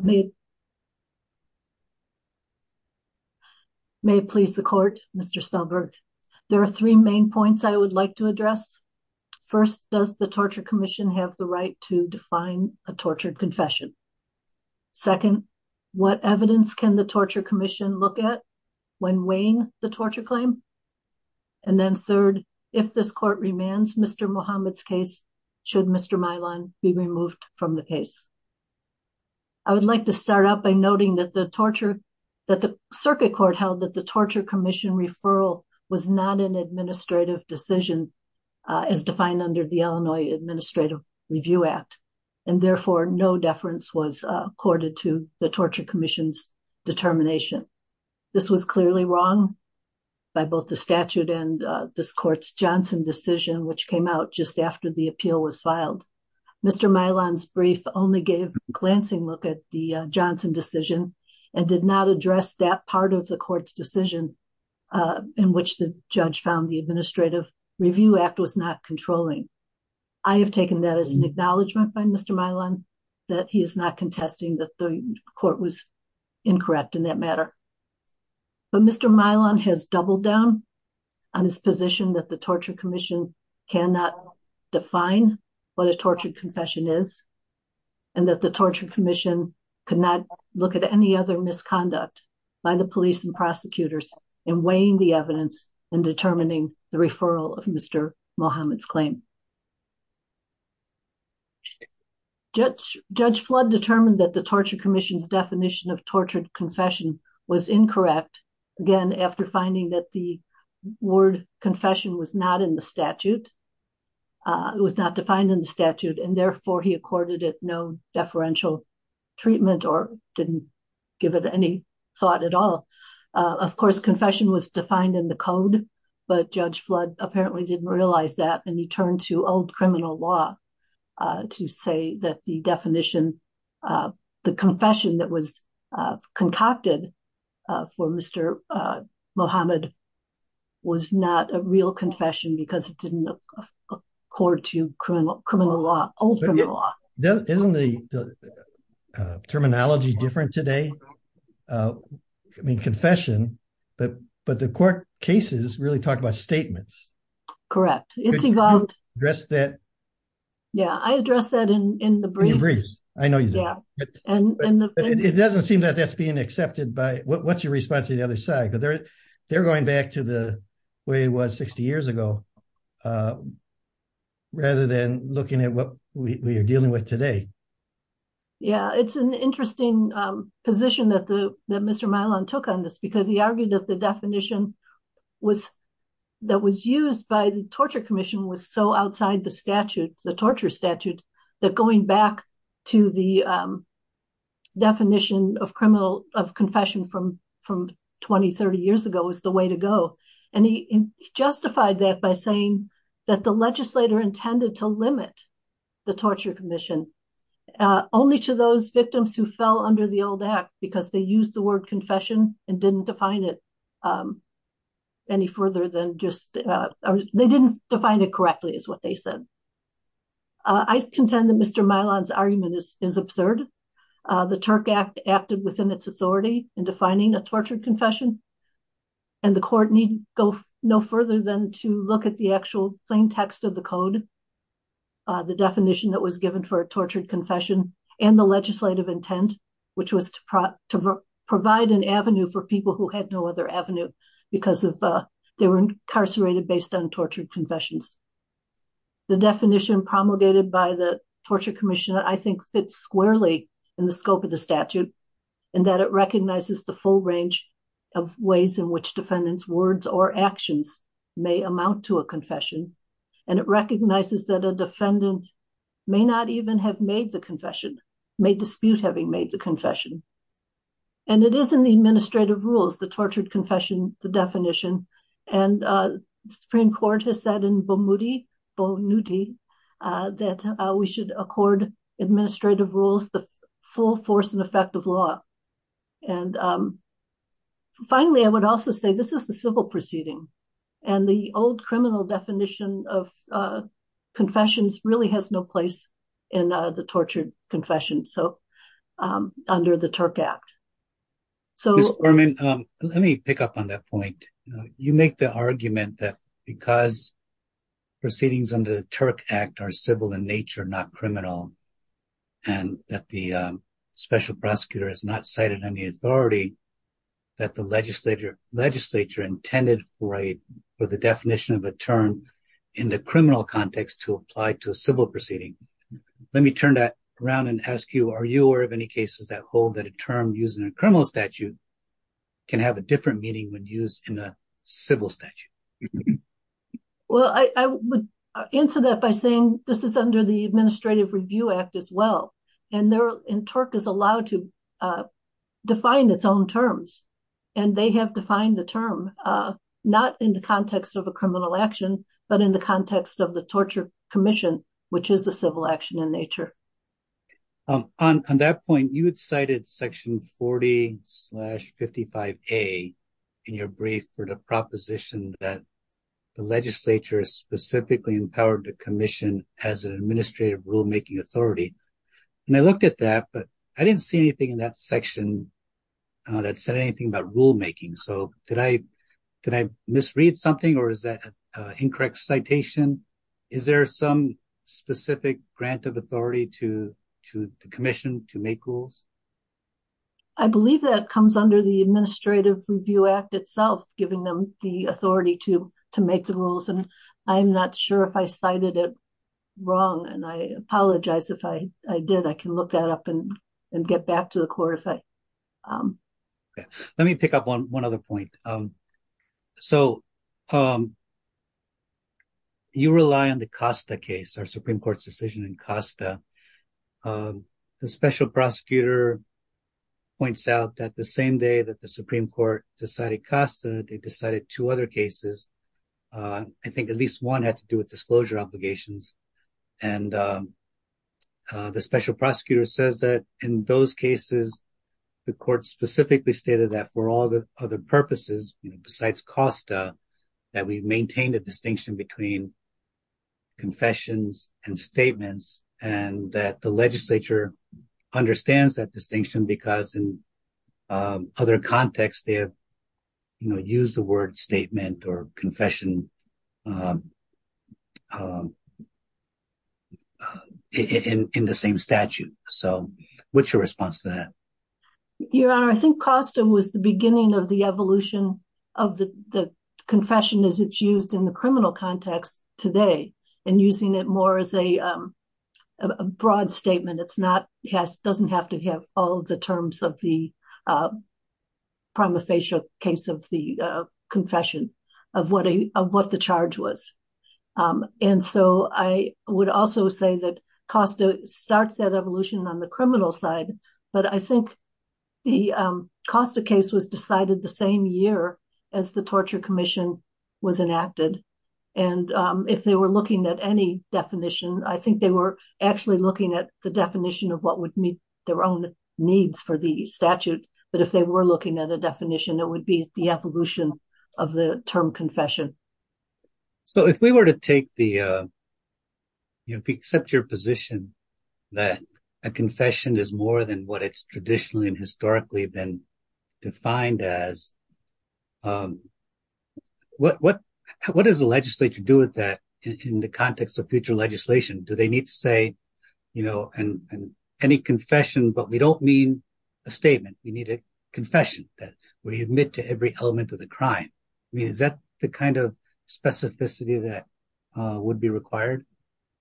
may please the court. Mr. Stahlberg, there are three main points I would like to address. First, does the Torture Commission have the right to define a tortured confession? Second, what evidence can the Torture Commission look at when weighing the torture claim? And then third, if this court remands Mr. Muhammad's case, should Mr. Milan be removed from the case? I would like to start out by noting that the circuit court held that the Torture Commission referral was not an administrative decision as defined under the Illinois Administrative Review Act, and therefore no deference was accorded to the Torture Commission's determination. This was clearly wrong by both the statute and this court's Johnson decision, which came out just after the appeal was filed. Mr. Milan's brief only gave a glancing look at the Johnson decision and did not address that part of the court's decision in which the judge found the Administrative Review Act was not controlling. I have taken that as an acknowledgement by Mr. Milan that he is not contesting that the court was incorrect in that matter. But Mr. Milan has doubled down on his position that the Torture Commission cannot define what a tortured confession is, and that the Torture Commission could not look at any other misconduct by the police and prosecutors in weighing the evidence and determining the referral of Mr. Muhammad's claim. Judge Flood determined that the Torture Commission's definition of tortured confession was incorrect, again after finding that the word confession was not in the statute, it was not defined in the statute, and therefore he accorded it no deferential treatment or didn't give it any thought at all. Of course, confession was defined in the code, but Judge Flood apparently didn't realize that, and he turned to old criminal law to say that the definition of the confession that was concocted for Mr. Muhammad was not a real confession because it didn't accord to criminal law, old criminal law. Isn't the terminology different today? I mean confession, but the court cases really talk about statements. Correct. It's evolved. You addressed that. Yeah, I addressed that in the briefs. I know you did. It doesn't seem that that's being accepted by, what's your response to the other side? They're going back to the way it was 60 years ago rather than looking at what we are dealing with today. Yeah, it's an interesting position that Mr. Milan took on this because he argued that the definition that was used by the Torture Commission was so outside the statute, the torture statute, that going back to the definition of confession from 20, 30 years ago was the way to go, and he justified that by saying that the legislator intended to limit the Torture Commission only to those victims who fell under the old act because they used the word confession and didn't define it any further than just, they didn't define it correctly is what they said. I contend that Mr. Milan's argument is absurd. The Turk Act acted within its authority in defining a tortured confession, and the court need go no further than to look at the actual plain text of the code, the definition that was given for a tortured confession, and the legislative intent, which was to provide an avenue for people who had no other avenue because they were incarcerated based on tortured confessions. The definition promulgated by the Torture Commission, I think, fits squarely in the scope of the statute in that it recognizes the full range of ways in which defendants' words or actions may amount to a confession, and it recognizes that a defendant may not even have made the confession, may dispute having made the confession, and it is in the administrative rules, the tortured confession, the definition, and the Supreme Court has said in Bonuti that we should accord administrative rules the full force and effect of law, and finally, I would also say this is the civil proceeding, and the old criminal definition of confessions really has no place in the tortured confession, so under the TURC Act. Ms. Berman, let me pick up on that point. You make the argument that because proceedings under the TURC Act are civil in nature, not criminal, and that the special prosecutor has not cited any authority that the legislature intended for the definition of a term in the criminal context to apply to a civil proceeding. Let me turn that around and ask you, are you aware of any cases that hold that a term used in a criminal statute can have a different meaning when used in a civil statute? Well, I would answer that by saying this is under the Administrative Review Act as well, and TURC is allowed to define its own terms, and they have defined the term, not in the context of a criminal action, but in the context of the tortured commission, which is a civil action in nature. On that point, you had cited Section 40-55A in your brief for the proposition that the legislature specifically empowered the commission as an administrative rulemaking authority, and I looked at that, but I didn't see anything in that section that said anything about rulemaking, so did I misread something, or is that an incorrect citation? Is there some specific grant of authority to the commission to make rules? I believe that comes under the Administrative Review Act itself, giving them the authority to make the rules, and I'm not sure if I cited it wrong, and I apologize if I did. I can look that up. You rely on the Costa case, our Supreme Court's decision in Costa. The special prosecutor points out that the same day that the Supreme Court decided Costa, they decided two other cases. I think at least one had to do with disclosure obligations, and the special prosecutor says that in those cases, the court specifically stated that for other purposes besides Costa, that we maintain a distinction between confessions and statements, and that the legislature understands that distinction because in other contexts, they have used the word statement or confession in the same statute. What's your response to that? Your Honor, I think Costa was the beginning of the evolution of the confession as it's used in the criminal context today, and using it more as a broad statement. It doesn't have to have all the terms of the prima facie case of the confession of what the charge was, and so I would also say Costa starts that evolution on the criminal side, but I think the Costa case was decided the same year as the Torture Commission was enacted, and if they were looking at any definition, I think they were actually looking at the definition of what would meet their own needs for the statute, but if they were looking at a definition, it would be the evolution of the confession. If we accept your position that a confession is more than what it's traditionally and historically been defined as, what does the legislature do with that in the context of future legislation? Do they need to say any confession, but we don't mean a statement. We need a confession that we admit to every element of the crime. I mean, is that the kind of specificity that would be required?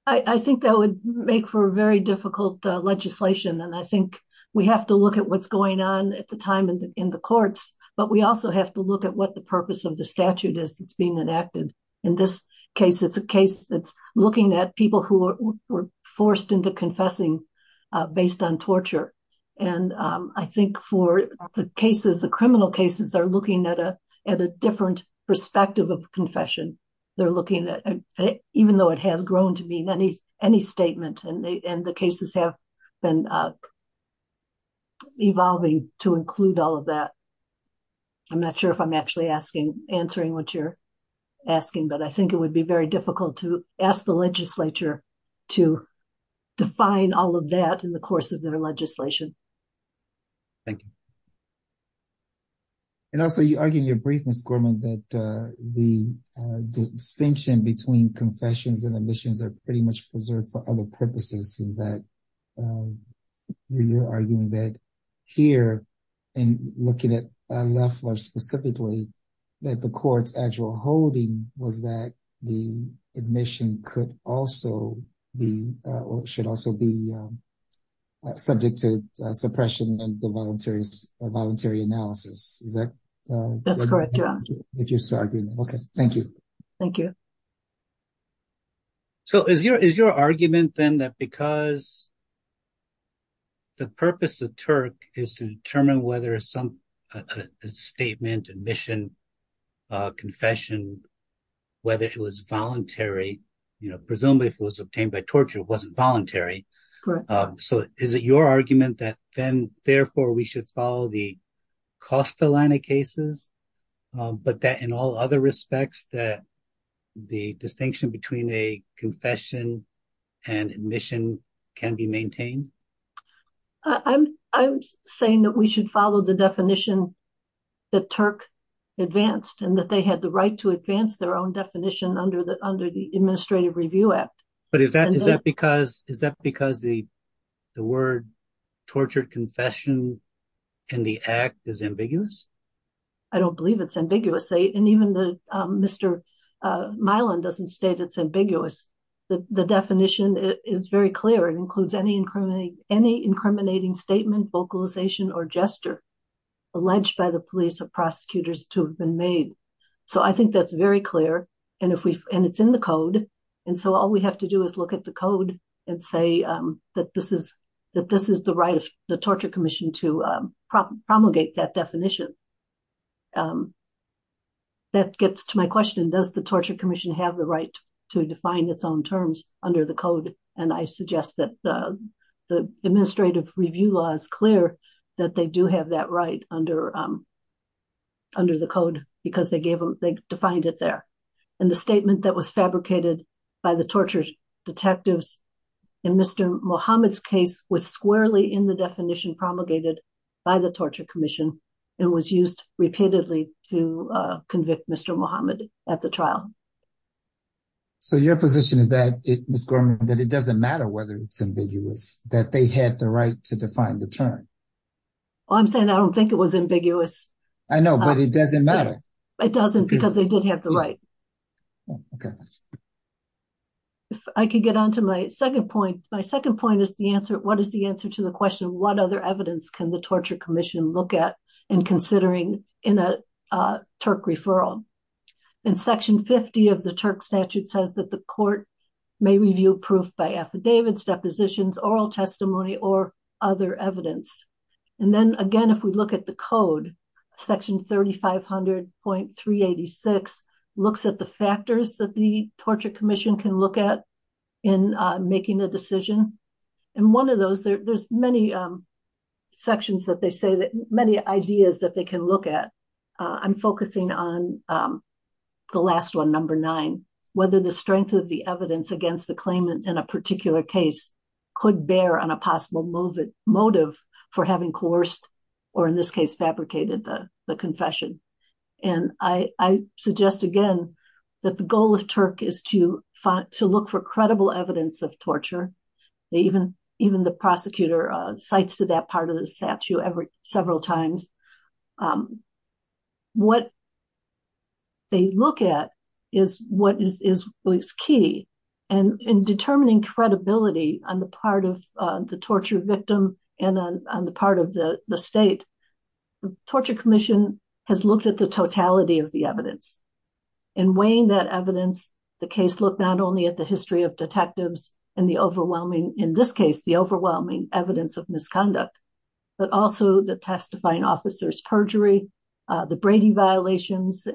I think that would make for very difficult legislation, and I think we have to look at what's going on at the time in the courts, but we also have to look at what the purpose of the statute is that's being enacted. In this case, it's a case that's looking at people who were forced into confessing based on torture, and I think for the cases, the criminal cases, they're looking at a different perspective of confession. They're looking at, even though it has grown to be any statement, and the cases have been evolving to include all of that. I'm not sure if I'm actually answering what you're asking, but I think it would be very difficult to ask the legislature to define all of that in the course of their legislation. Thank you. And also, you argued in your brief, Ms. Gorman, that the distinction between confessions and admissions are pretty much preserved for other purposes, in that you're arguing that here, and looking at Loeffler specifically, that the court's actual holding was that the admission could also be, or should also be, subject to suppression and the voluntary analysis. Is that? That's correct, yeah. Okay, thank you. Thank you. So, is your argument then that because the purpose of TURC is to determine whether some statement, admission, confession, whether it was voluntary, you know, presumably if it was obtained by torture, it wasn't voluntary. So, is it your argument that then, therefore, we should follow the Costa line of cases, but that in all other respects that the distinction between a confession and admission can be maintained? I'm saying that we should follow the definition that TURC advanced, and that they had the right to advance their own definition under the Administrative Review Act. But is that because the word tortured confession and the act is ambiguous? I don't believe it's ambiguous. And even Mr. Milan doesn't state it's ambiguous. The definition is very clear. It includes any incriminating statement, vocalization, or gesture alleged by the police or prosecutors to have been made. So, I think that's very clear. And if we, and it's in the code. And so, all we have to do is look at the code and say that this is, that this is the right of the Torture Commission to promulgate that definition. That gets to my question, does the Torture Commission have the right to define its own terms under the code? And I suggest that the Administrative Review Law is clear that they do have that right under the code because they gave them, they defined it there. And the statement that was fabricated by the tortured detectives in Mr. Muhammad's case was squarely in the definition promulgated by the Torture Commission and was used repeatedly to convict Mr. Muhammad at the trial. So, your position is that, Ms. Gorman, that it doesn't matter whether it's ambiguous, that they had the right to define the term. Well, I'm saying I don't think it was ambiguous. I know, but it doesn't matter. It doesn't because they did have the right. Okay. If I could get on to my second point, my second point is the answer, what is the answer to the question of what other evidence can the Torture Commission look at in considering in a TURC referral? In section 50 of the TURC statute says that the court may review proof by affidavits, depositions, oral testimony, or other evidence. And then again, if we look at the code, section 3500.386 looks at the factors that the Torture Commission can look at in making a decision. And one of those, there's many sections that they say that, many ideas that they can look at. I'm focusing on the last one, number nine, whether the strength of the evidence against the claimant in a particular case could bear on a possible motive for having coerced, or in this case, fabricated the confession. And I suggest again, that the goal of TURC is to look for credible evidence of torture. Even the prosecutor cites to that part of the statute several times. What they look at is what is key. And in determining credibility on the part of the torture victim and on the part of the state, the Torture Commission has looked at the totality of the evidence. And weighing that evidence, the case looked not only at the history of detectives and the overwhelming, in this case, the overwhelming evidence of misconduct, but also the testifying officers perjury, the Brady violations.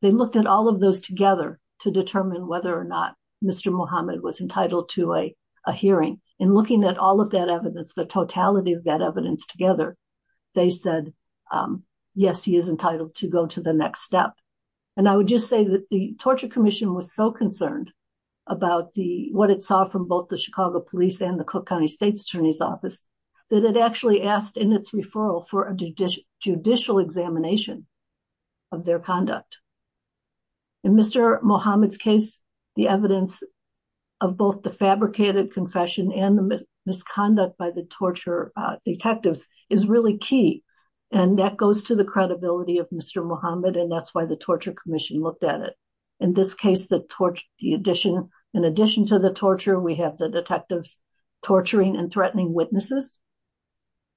They looked at all of those together to determine whether or not Mr. Muhammad was entitled to a hearing. And looking at all of that evidence, the totality of that evidence together, they said, yes, he is entitled to go to the next step. And I would just say that the Torture Commission was so concerned about what it saw from both the Chicago Police and the Cook County State's Attorney's Office, that it actually asked in its referral for a judicial examination of their conduct. In Mr. Muhammad's case, the evidence of both the fabricated confession and the misconduct by the torture detectives is really key. And that goes to the credibility of Mr. Muhammad. And that's the reason why the Torture Commission looked at it. In this case, in addition to the torture, we have the detectives torturing and threatening witnesses.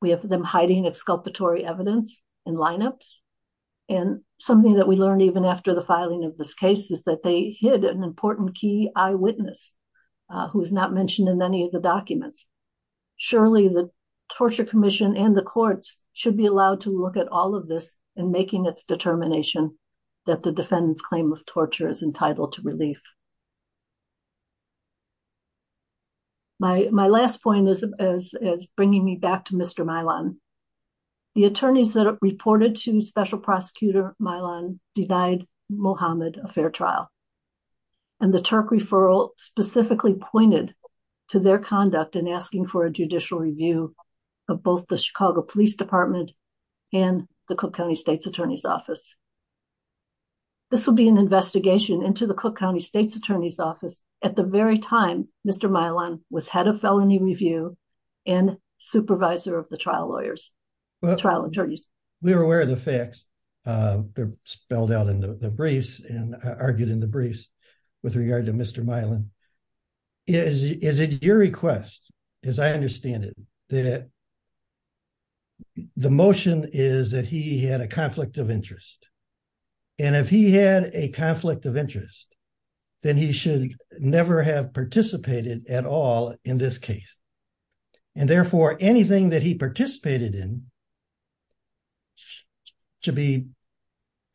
We have them hiding exculpatory evidence in lineups. And something that we learned even after the filing of this case is that they hid an important key eyewitness who was not mentioned in any of the documents. Surely the Torture Commission and the courts should be allowed to look at all of this and making its determination that the defendant's claim of torture is entitled to relief. My last point is bringing me back to Mr. Milan. The attorneys that reported to Special Prosecutor Milan denied Muhammad a fair trial. And the Turk referral specifically pointed to their conduct in asking for a judicial review of both the Chicago Police Department and the Cook County State's Office. This will be an investigation into the Cook County State's Attorney's Office at the very time Mr. Milan was head of felony review and supervisor of the trial lawyers, trial attorneys. We were aware of the facts. They're spelled out in the briefs and argued in the briefs with regard to Mr. Milan. Is it your request, as I understand it, that the motion is that he had a conflict of interest? And if he had a conflict of interest, then he should never have participated at all in this case. And therefore, anything that he participated in should be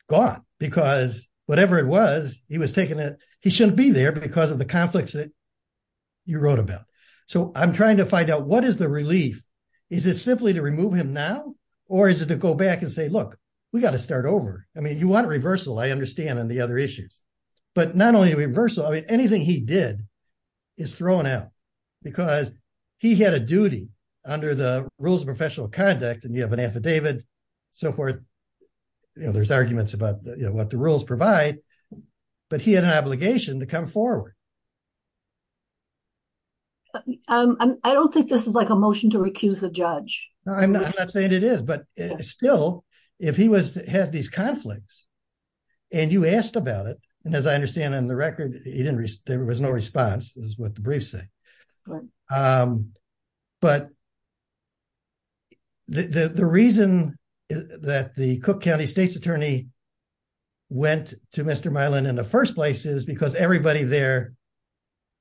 gone. Because whatever it was, he was taking it. He shouldn't be there because of the conflicts that you wrote about. So I'm trying to find out what is the relief is it simply to remove him now? Or is it to go back and say, look, we got to start over. I mean, you want a reversal, I understand, and the other issues. But not only reversal, I mean, anything he did is thrown out. Because he had a duty under the rules of professional conduct and you have an affidavit, so forth. You know, there's arguments about what the rules provide. But he had an No, I'm not saying it is. But still, if he had these conflicts, and you asked about it, and as I understand in the record, there was no response is what the briefs say. But the reason that the Cook County State's Attorney went to Mr. Milan in the first place is because everybody there,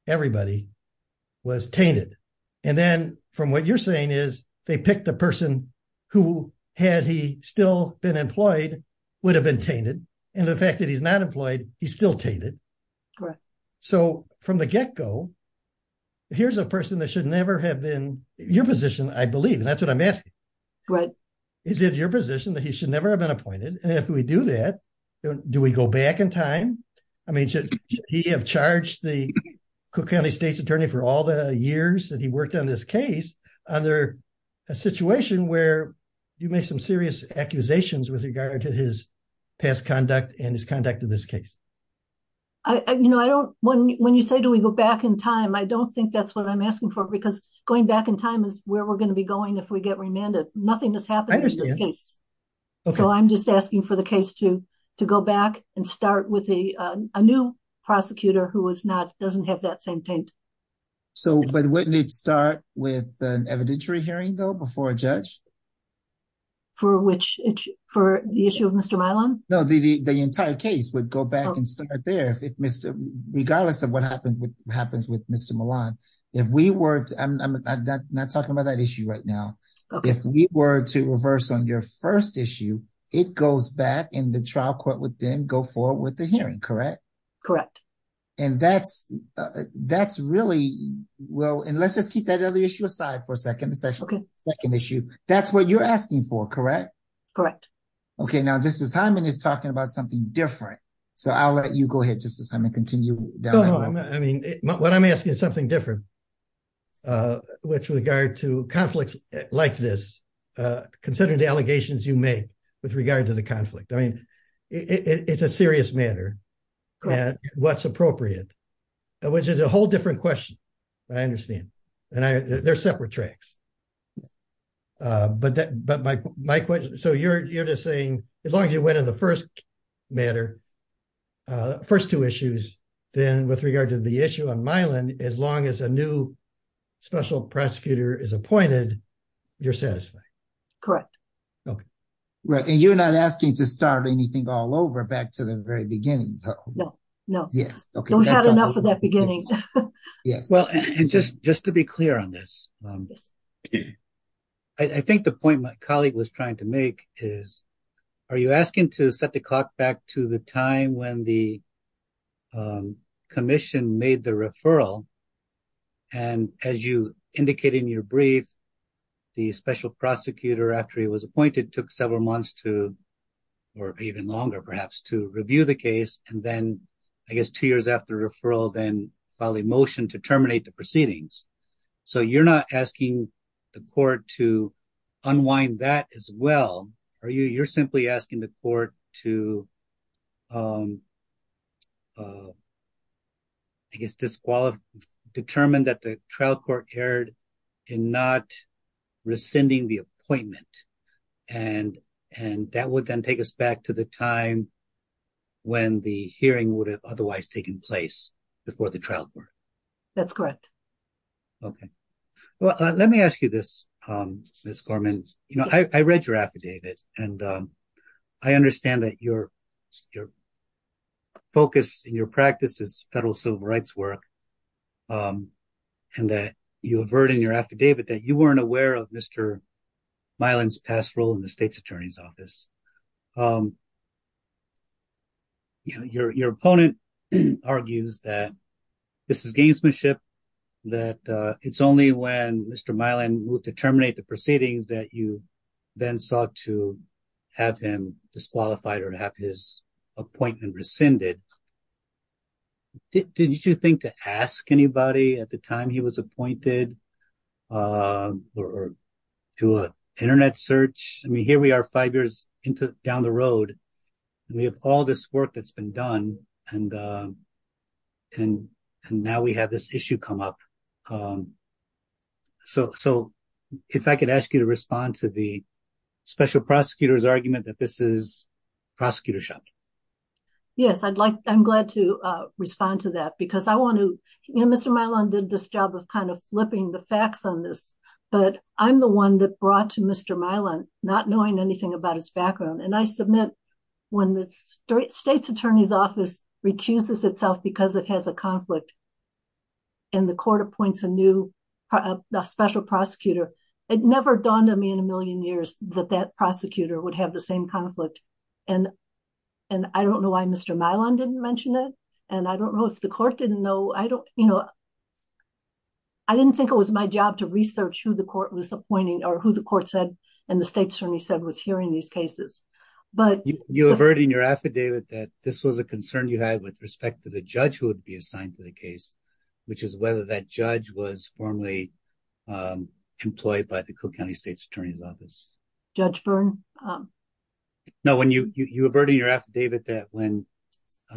everybody was tainted. And then from what you're saying is, they picked a person who had he still been employed, would have been tainted. And the fact that he's not employed, he's still tainted. So from the get go, here's a person that should never have been your position, I believe. And that's what I'm asking. Is it your position that he should never have been appointed? And if we do that, do we go back in time? I mean, should he have charged the Cook County State's Attorney for all the years that he worked on this case under a situation where you make some serious accusations with regard to his past conduct and his conduct in this case? I you know, I don't when when you say do we go back in time? I don't think that's what I'm asking for. Because going back in time is where we're going to be going if we get remanded. Nothing has happened in this case. So I'm just asking for the case to to go back and start with a new prosecutor who was not doesn't have that same paint. So but wouldn't it start with an evidentiary hearing, though, before a judge? For which for the issue of Mr. Milan? No, the the entire case would go back and start there. If Mr. Regardless of what happened, what happens with Mr. Milan, if we weren't, I'm not talking about that issue right now. If we were to reverse on your first issue, it goes back in the trial court would then go forward with the hearing. Correct? Correct. And that's, that's really well, and let's just keep that other issue aside for a second session. Okay, like an issue. That's what you're asking for. Correct? Correct. Okay, now this is Hyman is talking about something different. So I'll let you go ahead just as I'm going to continue. I mean, what I'm asking is something different. With regard to conflicts like this, considering the allegations you made with regard to the conflict, I mean, it's a serious matter. And what's appropriate, which is a whole different question. I understand. And I, they're separate tracks. But that but my, my question, so you're just saying, as long as you went in the first matter, first two issues, then with regard to the issue on Milan, as long as a new special prosecutor is appointed, you're satisfied? Correct. Okay. Right. And you're not asking to start anything all over back to the very beginning. No, no. Yes. Okay. Don't have enough for that beginning. Yes. Well, and just just to be clear on this. I think the point my colleague was trying to make is are you asking to set the clock back to the time when the commission made the referral? And as you indicated in your brief, the special prosecutor, after he was appointed, took several months to, or even longer, perhaps to review the case. And then, I guess, two years after referral, then file a motion to terminate the proceedings. So you're not asking the court to unwind that as well, are you? You're simply asking the court to, I guess, disqualify, determine that the trial court erred in not rescinding the appointment. And, and that would then take us back to the time when the hearing would have otherwise taken place before the trial court. That's correct. Okay. Well, let me ask you this, Ms. Gorman. You know, I read your affidavit, and I understand that your, your focus in your practice is federal civil rights work, and that you avert in your affidavit that you weren't aware of Mr. Milan's past role in the state's attorney's office. Your, your opponent argues that this is gamesmanship, that it's only when Mr. Milan moved to terminate the proceedings that you then sought to have him disqualified, or have his appointment rescinded. Did you think to ask anybody at the time he was appointed or do an internet search? I mean, here we are five years into, down the road, and we have all this work that's been done, and, and, and now we have this issue come up. So, so if I could ask you to respond to the special prosecutor's argument that this is prosecutor's job. Yes, I'd like, I'm glad to respond to that because I want to, you know, Mr. Milan did this job of kind of flipping the facts on this, but I'm the one that brought to Mr. Milan not knowing anything about his background, and I submit when the state's attorney's office recuses itself because it has a conflict, and the court appoints a new, a special prosecutor, it never dawned on me in a million years that that prosecutor would have the same conflict, and, and I don't know why Mr. Milan didn't mention it, and I don't know if the I didn't think it was my job to research who the court was appointing, or who the court said, and the state's attorney said was hearing these cases, but... You averted in your affidavit that this was a concern you had with respect to the judge who would be assigned to the case, which is whether that judge was formally employed by the Cook County State's Attorney's Office. Judge Byrne? No, when you, you averted in your affidavit that when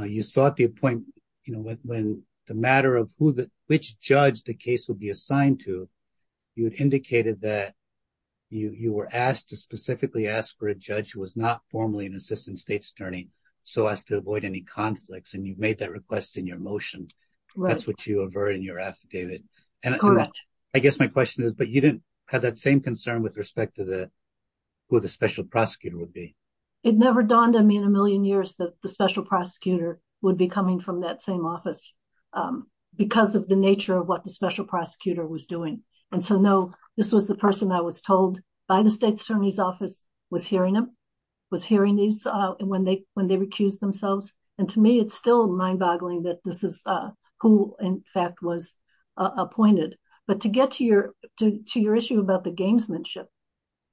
you sought the appointment, you know, when the matter of who the, which judge the case would be assigned to, you had indicated that you, you were asked to specifically ask for a judge who was not formally an assistant state's attorney, so as to avoid any conflicts, and you made that request in your motion. That's what you averted in your affidavit, and I guess my question is, but you didn't have that same concern with respect to the, who the special prosecutor would be? It never dawned on me in a million years that the special prosecutor would be coming from that same office because of the nature of what the special prosecutor was doing, and so no, this was the person I was told by the state's attorney's office was hearing them, was hearing these when they, when they recused themselves, and to me, it's still mind-boggling that this is who, in fact, was appointed, but to get to your, to your issue about the gamesmanship,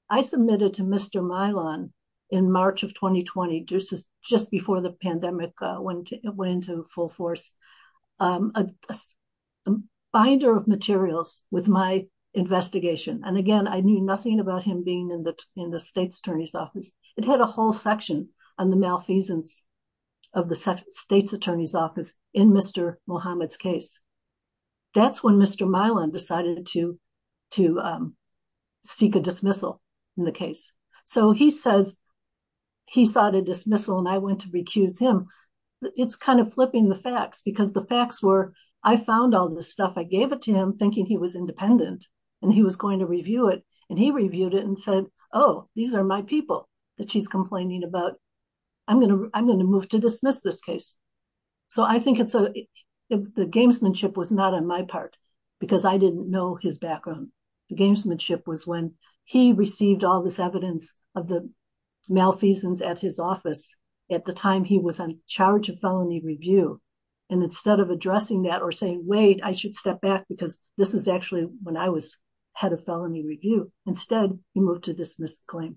I submitted to Mr. Milan in March of 2020, just before the pandemic went into full force, a binder of materials with my investigation, and again, I knew nothing about him being in the, in the state's attorney's office. It had a whole section on the malfeasance of the state's attorney's office in Mr. Muhammad's case. That's when Mr. Milan decided to, to dismissal in the case, so he says he sought a dismissal, and I went to recuse him. It's kind of flipping the facts because the facts were, I found all this stuff. I gave it to him thinking he was independent, and he was going to review it, and he reviewed it and said, oh, these are my people that she's complaining about. I'm going to, I'm going to move to dismiss this case, so I think it's a, the gamesmanship was not on my part because I didn't know his received all this evidence of the malfeasance at his office at the time he was in charge of felony review, and instead of addressing that or saying, wait, I should step back because this is actually when I was head of felony review. Instead, he moved to dismiss the claim.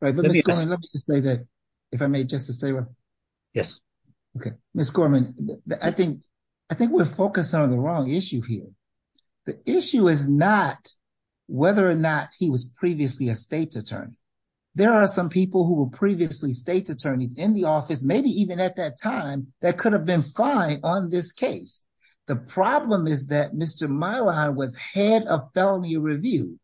Right, but let me just say that, if I may, Justice Taylor. Yes. Okay. Ms. Gorman, I think, I think we're focused on the wrong issue here. The issue is not whether or not he was previously a state's attorney. There are some people who were previously state's attorneys in the office, maybe even at that time, that could have been fine on this case. The problem is that Mr. Mylon was head of felony review.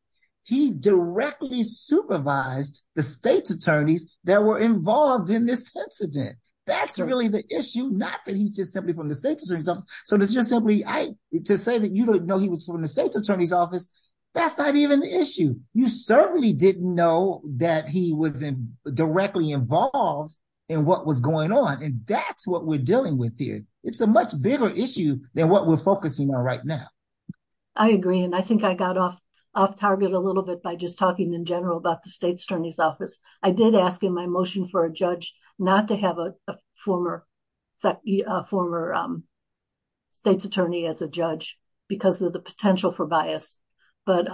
He directly supervised the state's attorneys that were involved in this incident. That's really the issue, not that he's just simply from the state's attorney's office, so it's just simply, I, to say that you don't was from the state's attorney's office, that's not even the issue. You certainly didn't know that he was directly involved in what was going on, and that's what we're dealing with here. It's a much bigger issue than what we're focusing on right now. I agree, and I think I got off target a little bit by just talking in general about the state's attorney's office. I did ask in my motion for a judge not to have a former state's attorney as judge because of the potential for bias, but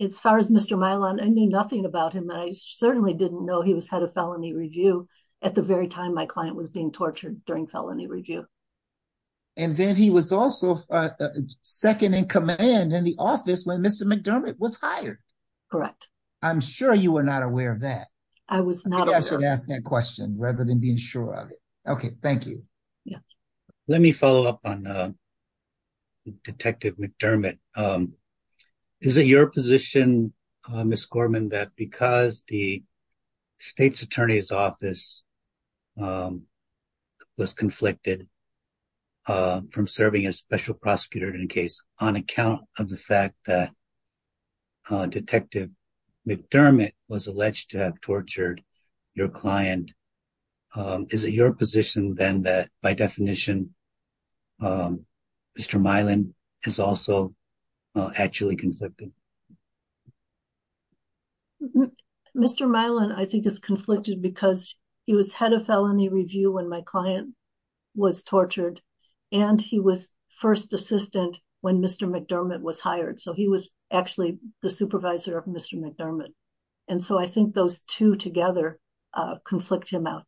as far as Mr. Mylon, I knew nothing about him. I certainly didn't know he was head of felony review at the very time my client was being tortured during felony review. Then he was also second in command in the office when Mr. McDermott was hired. Correct. I'm sure you were not aware of that. I was not. I'm sure you asked that question rather than being sure of it. Okay, thank you. Yes. Let me follow up on Detective McDermott. Is it your position, Ms. Gorman, that because the state's attorney's office was conflicted from serving as special prosecutor in a case on account of the fact that McDermott was alleged to have tortured your client, is it your position then that, by definition, Mr. Mylon is also actually conflicted? Mr. Mylon, I think, is conflicted because he was head of felony review when my client was tortured, and he was first assistant when Mr. McDermott was hired, so he was actually the supervisor of Mr. McDermott. I think those two together conflict him out.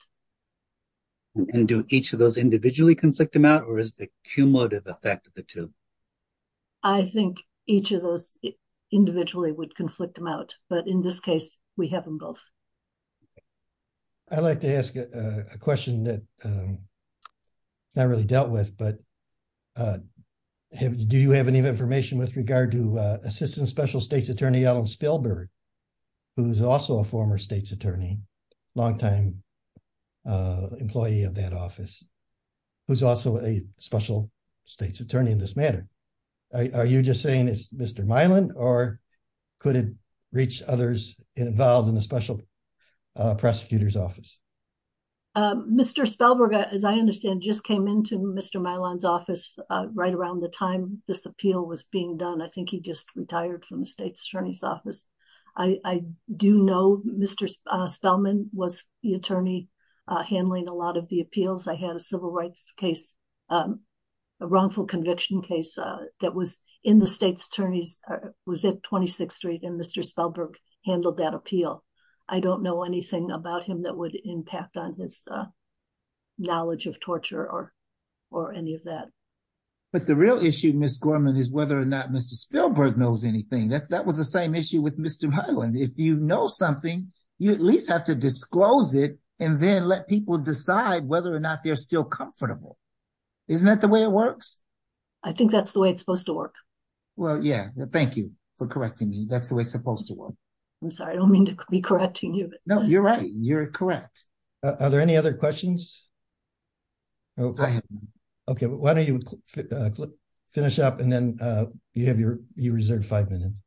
Do each of those individually conflict him out, or is it a cumulative effect of the two? I think each of those individually would conflict him out, but in this case, we have them both. I'd like to ask a question that's not really dealt with, but do you have any information with regard to Assistant Special State's Attorney Ellen Spelberg, who's also a former state's attorney, longtime employee of that office, who's also a special state's attorney in this matter? Are you just saying it's Mr. Mylon, or could it reach others involved in the special prosecutor's office? Mr. Spelberg, as I understand, just came into Mr. Mylon's office right around the time this appeal was being done. I think he just retired from the state's attorney's office. I do know Mr. Spelman was the attorney handling a lot of the appeals. I had a civil rights case, a wrongful conviction case, that was in the state's attorneys, was at 26th Street, and Mr. Spelberg handled that appeal. I don't know anything about him that would impact on his knowledge of torture or any of that. But the real issue, Ms. Gorman, is whether or not Mr. Spelberg knows anything. That was the same issue with Mr. Mylon. If you know something, you at least have to disclose it and then let people decide whether or not they're still comfortable. Isn't that the way it works? I think that's the way it's supposed to work. Well, yeah. Thank you for correcting me. That's the way it's supposed to work. I'm sorry. I don't mean to be correcting you. No, you're right. You're correct. Are there any other questions? I have none. Okay. Why don't you finish up and then you reserve five minutes.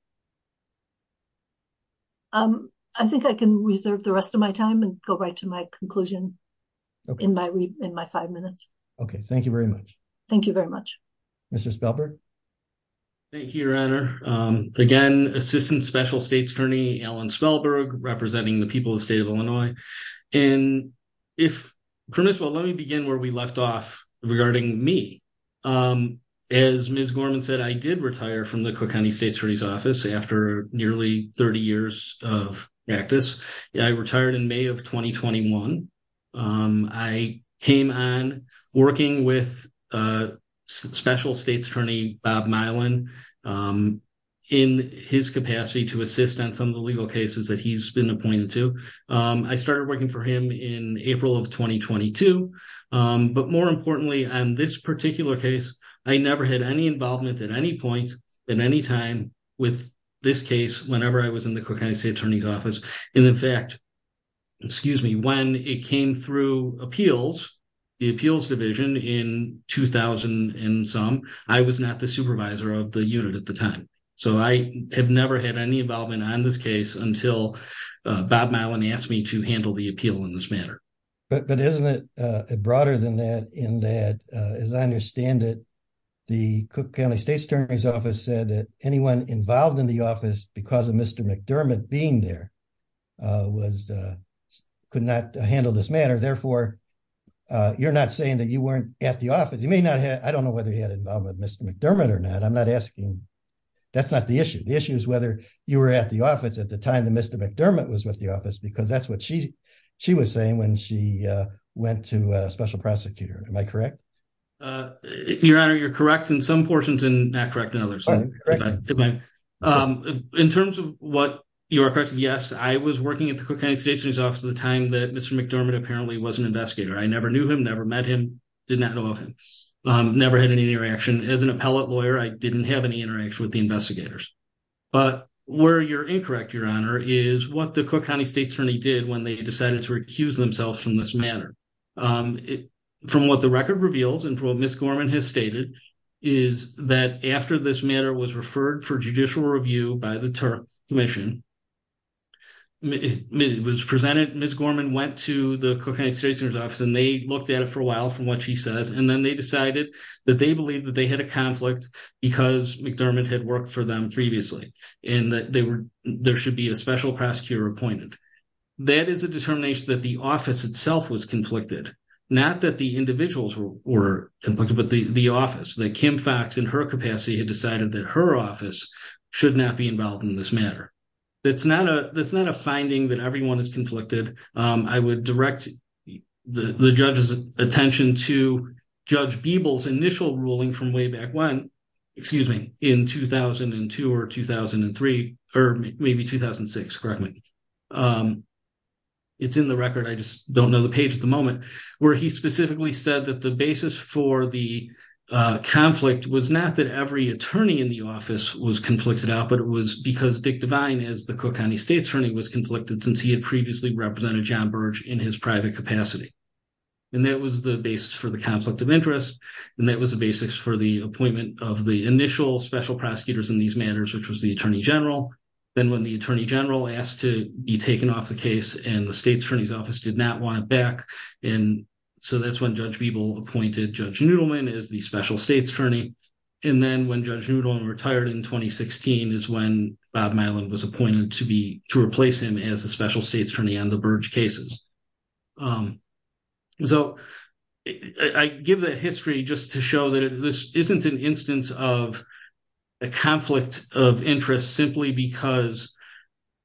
I think I can reserve the rest of my time and go right to my conclusion in my five minutes. Okay. Thank you very much. Thank you very much. Mr. Spelberg. Thank you, Your Honor. Again, Assistant Special States Attorney Alan Spelberg, representing the people of the state of Illinois. If permissible, let me begin where we left off regarding me. As Ms. Gorman said, I did retire from the Cook County State Attorney's Office after nearly 30 years of practice. I retired in May of 2021. I came on working with Special States Attorney Bob Mylon in his capacity to assist on some of the legal cases that he's been appointed to. I started working for him in April of 2022. But more importantly, on this particular case, I never had any involvement at any point in any time with this case whenever I was in the Cook County State Attorney's Office. And in fact, excuse me, when it came through the appeals division in 2000 and some, I was not the supervisor of the unit at the time. So I have never had any involvement on this case until Bob Mylon asked me to handle the appeal in this manner. But isn't it broader than that in that, as I understand it, the Cook County State Attorney's Office said that anyone involved in the office because of Mr. McDermott being there was, could not handle this matter. Therefore, you're not saying that you weren't at the office. You may not have, I don't know whether he had involvement with Mr. McDermott or not. I'm not asking, that's not the issue. The issue is whether you were at the office at the time that Mr. McDermott was with the office because that's what she was saying when she went to a special prosecutor. Am I correct? If your honor, you're correct in some portions and not correct in others. Correct. In terms of what you are correct, yes, I was working at the Cook County State Attorney's Office at the time that Mr. McDermott apparently was an investigator. I never knew him, never met him, did not know of him, never had any interaction. As an appellate lawyer, I didn't have any interaction with the investigators. But where you're incorrect, your honor, is what the Cook County State Attorney did when they decided to recuse themselves from this matter. From what the record reveals and from what Ms. Gorman has stated, is that after this matter was referred for judicial review by the Turp Commission, it was presented, Ms. Gorman went to the Cook County State Attorney's Office and they looked at it for a while from what she says and then they decided that they believed that they had a conflict because McDermott had worked for them previously and that there should be a special prosecutor appointed. That is a determination that the office itself was conflicted, not that the Kim Foxx in her capacity had decided that her office should not be involved in this matter. That's not a finding that everyone is conflicted. I would direct the judge's attention to Judge Beeble's initial ruling from way back when, excuse me, in 2002 or 2003, or maybe 2006, correct me. It's in the record, I just don't know the page at the moment, where he specifically said that the basis for the conflict was not that every attorney in the office was conflicted out, but it was because Dick Devine, as the Cook County State Attorney, was conflicted since he had previously represented John Burge in his private capacity. And that was the basis for the conflict of interest and that was the basis for the appointment of the initial special prosecutors in these matters, which was the Attorney General. Then when the Attorney General asked to be taken off the case and the state's attorney's office did not want it back, and so that's when Judge Beeble appointed Judge Noodleman as the special state's attorney. And then when Judge Noodleman retired in 2016 is when Bob Myland was appointed to be, to replace him as the special state's attorney on the Burge cases. So I give the history just to show that this isn't an instance of a conflict of interest simply because,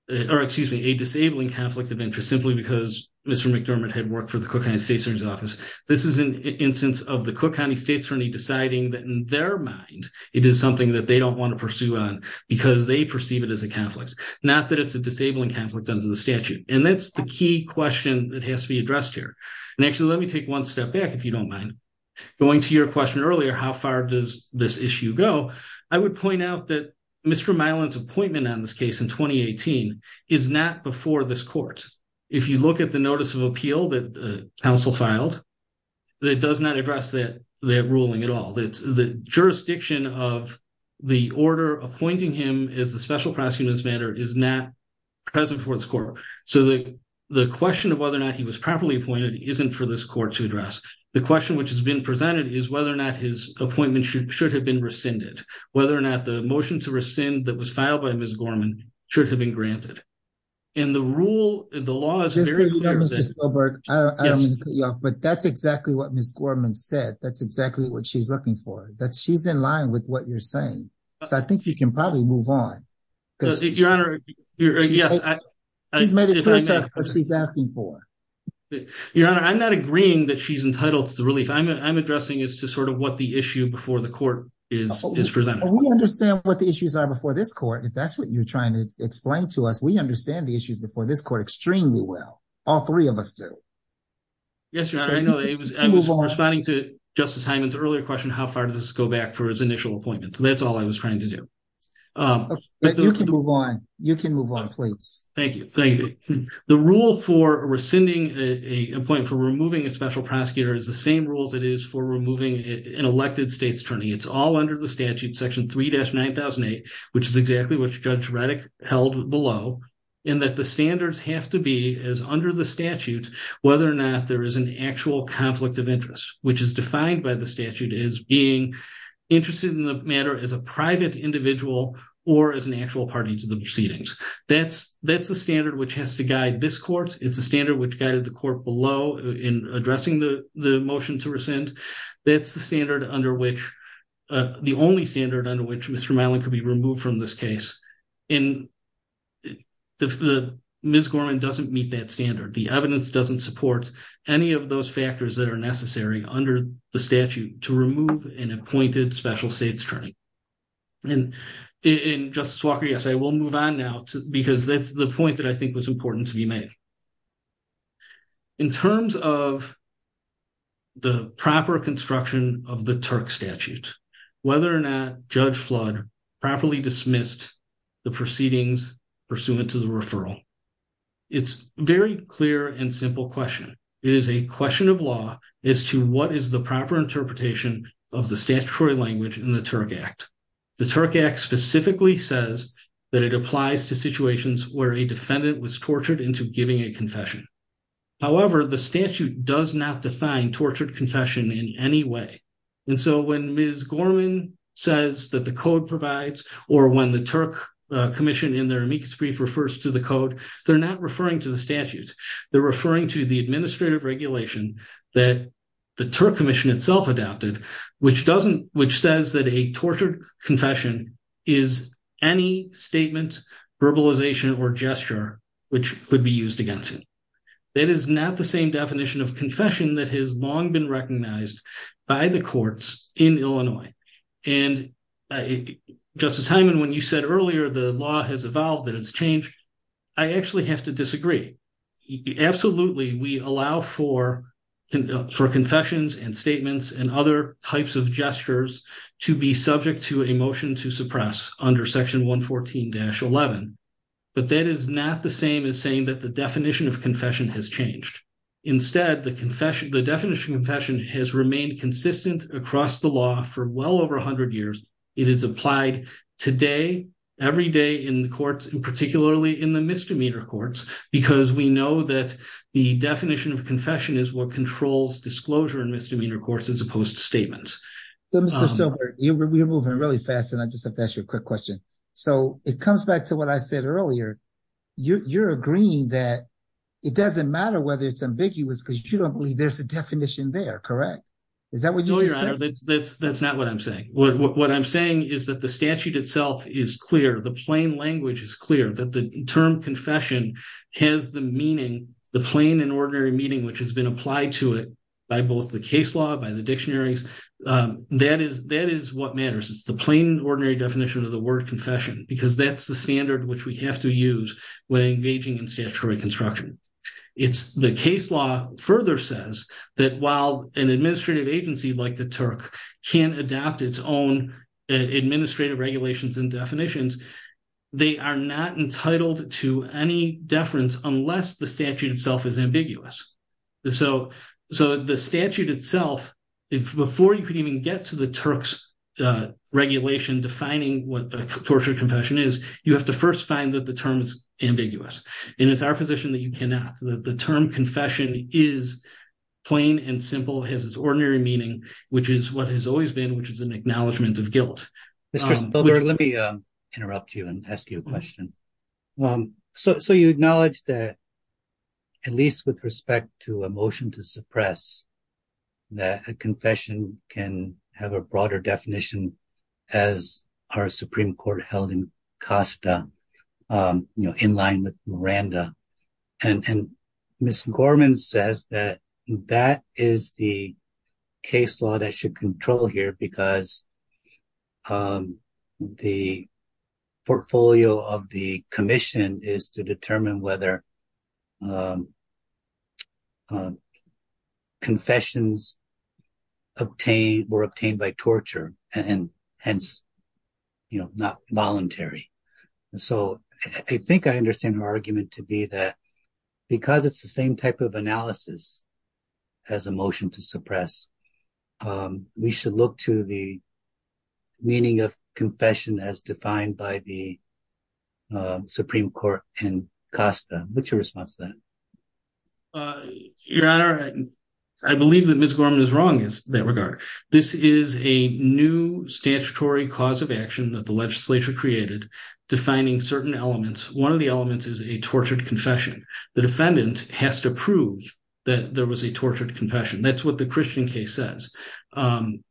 or excuse me, a disabling conflict of interest simply because Mr. McDermott had worked for the Cook County State's Attorney's office. This is an instance of the Cook County State's Attorney deciding that in their mind it is something that they don't want to pursue on because they perceive it as a conflict, not that it's a disabling conflict under the statute. And that's the key question that has to be addressed here. And actually, let me take one step back if you don't mind. Going to your question earlier, how far does this issue go? I would point out that Mr. Myland's appointment on this case in 2018 is not before this court. If you look at the notice of appeal that the council filed, it does not address that ruling at all. The jurisdiction of the order appointing him as the special prosecutor is not present for this court. So the question of whether or not he was properly appointed isn't for this court to address. The question which has been presented is whether or not his appointment should have been rescinded, whether or not the motion to rescind that was filed by Ms. Gorman should have been granted. And the rule, the law is very clear. Mr. Spielberg, I don't mean to cut you off, but that's exactly what Ms. Gorman said. That's exactly what she's looking for. That she's in line with what you're saying. So I think you can probably move on. Your Honor, yes. She's asking for. Your Honor, I'm not agreeing that she's what the issue before the court is presented. We understand what the issues are before this court. If that's what you're trying to explain to us, we understand the issues before this court extremely well. All three of us do. Yes, Your Honor. I was responding to Justice Hyman's earlier question, how far does this go back for his initial appointment? That's all I was trying to do. You can move on. You can move on, please. Thank you. Thank you. The rule for rescinding a point for removing a special prosecutor is the same rules it is for removing an elected state's attorney. It's all under the statute, section 3-9008, which is exactly what Judge Reddick held below. And that the standards have to be as under the statute, whether or not there is an actual conflict of interest, which is defined by the statute as being interested in the matter as a private individual or as an actual party to the proceedings. That's the standard which has to guide this court. It's a standard which guided the court below in addressing the motion to rescind. That's the standard under which, the only standard under which Mr. Malin could be removed from this case. And Ms. Gorman doesn't meet that standard. The evidence doesn't support any of those factors that are necessary under the statute to remove an appointed special state's attorney. And Justice Walker, yes, I will move on now because that's the point that I think was important to be made. In terms of the proper construction of the TURC statute, whether or not Judge Flood properly dismissed the proceedings pursuant to the referral, it's very clear and simple question. It is a question of law as to what is the proper interpretation of the statutory language in the TURC Act. The TURC Act specifically says that it applies to situations where a person is tortured into giving a confession. However, the statute does not define tortured confession in any way. And so when Ms. Gorman says that the code provides or when the TURC Commission in their amicus brief refers to the code, they're not referring to the statute. They're referring to the administrative regulation that the TURC Commission itself adopted, which doesn't, which says that a tortured confession is any statement, verbalization, or gesture which could be used against it. That is not the same definition of confession that has long been recognized by the courts in Illinois. And Justice Hyman, when you said earlier the law has evolved, that it's changed, I actually have to disagree. Absolutely, we allow for confessions and statements and other types of gestures to be subject to a motion to suppress under Section 114-11. But that is not the same as saying that the definition of confession has changed. Instead, the definition of confession has remained consistent across the law for well over 100 years. It is applied today, every day in the courts, and particularly in the misdemeanor courts, because we know that the definition of confession is what controls disclosure in misdemeanor courts as opposed to statements. We're moving really fast, and I just have to ask you a quick question. So, it comes back to what I said earlier. You're agreeing that it doesn't matter whether it's ambiguous because you don't believe there's a definition there, correct? Is that what you're saying? That's not what I'm saying. What I'm saying is that the statute itself is clear. The plain language is the plain and ordinary meaning which has been applied to it by both the case law, by the dictionaries. That is what matters. It's the plain and ordinary definition of the word confession, because that's the standard which we have to use when engaging in statutory construction. The case law further says that while an administrative agency like the TURC can adapt its own administrative regulations and definitions, they are not entitled to any deference unless the statute itself is ambiguous. So, the statute itself, before you could even get to the TURC's regulation defining what a torture confession is, you have to first find that the term is ambiguous, and it's our position that you cannot. The term confession is plain and simple. It has its ordinary meaning, which is what has always been, which is an acknowledgment of guilt. Mr. Spilberg, let me interrupt you and ask you a question. So, you acknowledge that, at least with respect to a motion to suppress, that a confession can have a broader definition as our Supreme Court held in Costa, in line with Miranda. Ms. Gorman says that that is the case law that should control here because the portfolio of the commission is to determine whether confessions were obtained by torture and hence, you know, not voluntary. So, I think I understand her argument to be that because it's the same type of analysis as a motion to suppress, we should look to the meaning of confession as defined by the Supreme Court in Costa. What's your response to that? Your Honor, I believe that Ms. Gorman is wrong in that regard. This is a new statutory cause of action that the legislature created defining certain elements. One of the elements is a tortured confession. The defendant has to prove that there was a tortured confession. That's what the Christian case says.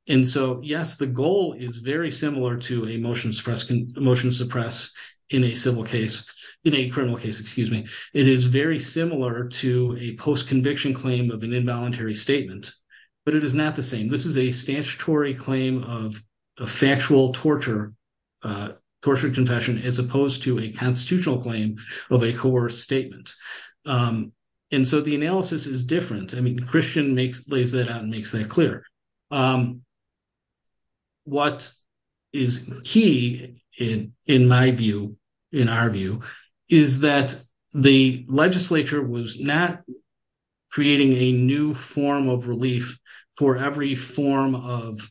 And so, yes, the goal is very similar to a motion to suppress in a civil case, in a criminal case, excuse me. It is very similar to a post-conviction claim of an involuntary statement, but it is not the same. This is a statutory claim of a factual torture, tortured confession, as opposed to a constitutional claim of a coerced statement. And so, the analysis is different. I mean, Christian lays that out and makes that clear. What is key in my view, in our view, is that the legislature was not creating a new form of relief for every form of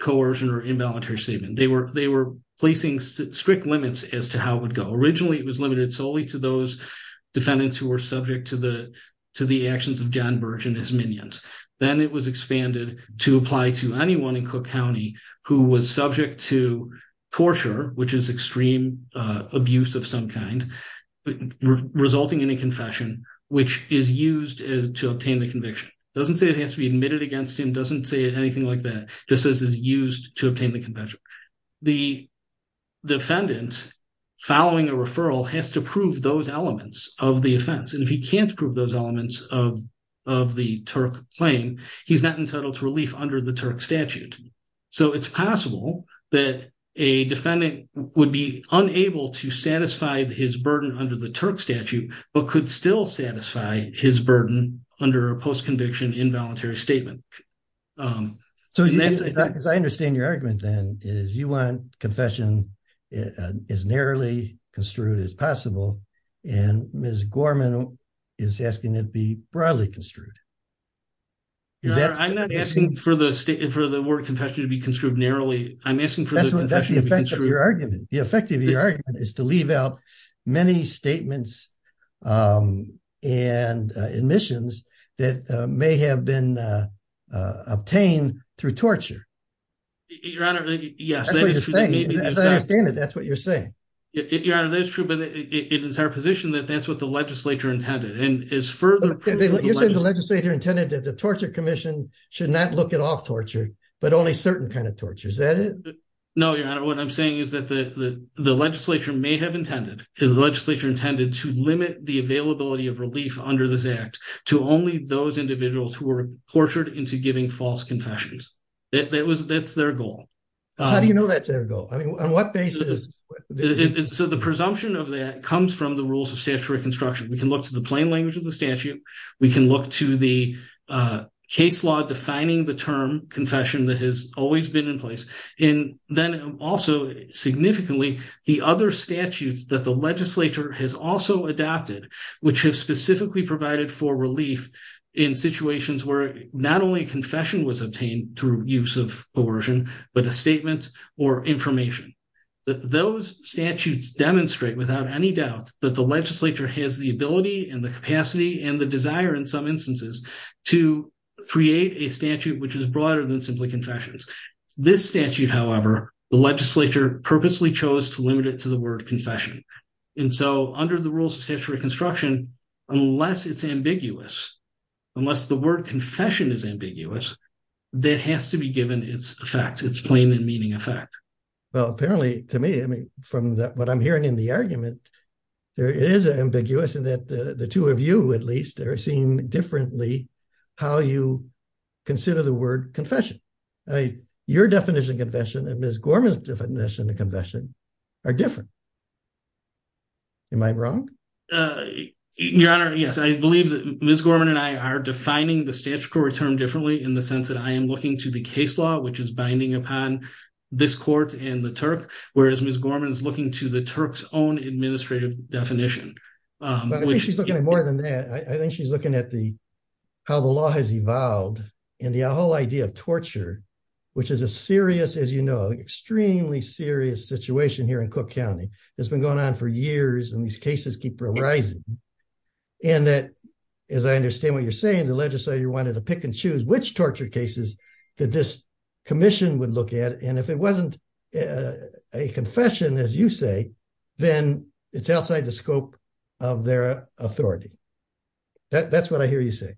coercion or involuntary statement. They were placing strict limits as to how it would go. Originally, it was limited solely to those defendants who were subject to the actions of John Birch and his minions. Then it was expanded to apply to anyone in Cook County who was subject to torture, which is extreme abuse of some kind, resulting in a confession, which is used to obtain the conviction. It doesn't say it has to be admitted against him. It doesn't say it has to be admitted against him. It says, following a referral, has to prove those elements of the offense. And if he can't prove those elements of the Turk claim, he's not entitled to relief under the Turk statute. So, it's possible that a defendant would be unable to satisfy his burden under the Turk statute, but could still satisfy his burden under a post-conviction involuntary statement. So, I understand your argument, then, is you want confession as narrowly construed as possible, and Ms. Gorman is asking it be broadly construed. I'm not asking for the word confession to be construed narrowly. I'm asking for the confession to be construed... That's the effect of your argument. The effect of your argument is to leave out many statements and admissions that may have been obtained through torture. Your Honor, yes, that is true. That's what you're saying. Your Honor, that is true, but it is our position that that's what the legislature intended. And as further proof... You said the legislature intended that the Torture Commission should not look at all torture, but only certain kind of torture. Is that it? No, Your Honor. What I'm saying is that the legislature may have intended, and the legislature intended to limit the availability of relief under this Act to only those individuals who were tortured into giving false confessions. That's their goal. How do you know that's their goal? I mean, on what basis? So, the presumption of that comes from the rules of statutory construction. We can look to the plain language of the statute. We can look to the case law defining the term confession that has always been in place. And then, also, significantly, the other statutes that the in situations where not only confession was obtained through use of coercion, but a statement or information. Those statutes demonstrate, without any doubt, that the legislature has the ability and the capacity and the desire, in some instances, to create a statute which is broader than simply confessions. This statute, however, the legislature purposely chose to limit it to the word unless the word confession is ambiguous, that has to be given its effect, its plain and meaning effect. Well, apparently, to me, I mean, from what I'm hearing in the argument, there is an ambiguous in that the two of you, at least, are seeing differently how you consider the word confession. Your definition of confession and Ms. Gorman's definition of confession are different. Am I wrong? Your Honor, yes. I believe that Ms. Gorman and I are defining the statutory term differently in the sense that I am looking to the case law, which is binding upon this court and the Turk, whereas Ms. Gorman is looking to the Turk's own administrative definition. I think she's looking at more than that. I think she's looking at the how the law has evolved and the whole idea of torture, which is a serious, as you know, extremely serious situation here in Cook County that's been going on for years and these cases keep arising. And that, as I understand what you're saying, the legislature wanted to pick and choose which torture cases that this commission would look at. And if it wasn't a confession, as you say, then it's outside the scope of their authority. That's what I hear you say.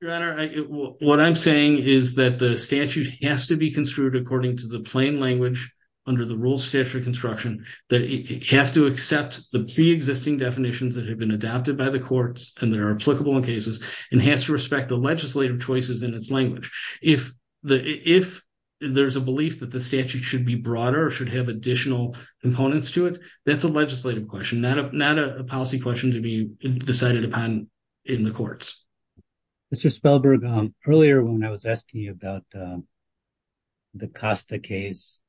Your Honor, what I'm saying is that the statute has to be construed according to the plain language under the rules of statutory construction that it has to accept the pre-existing definitions that have been adopted by the courts and that are applicable in cases and has to respect the legislative choices in its language. If there's a belief that the statute should be broader or should have additional components to it, that's a legislative question, not a policy question to be decided upon in the courts. Mr. Spellberg, earlier when I was asking you about the Costa case,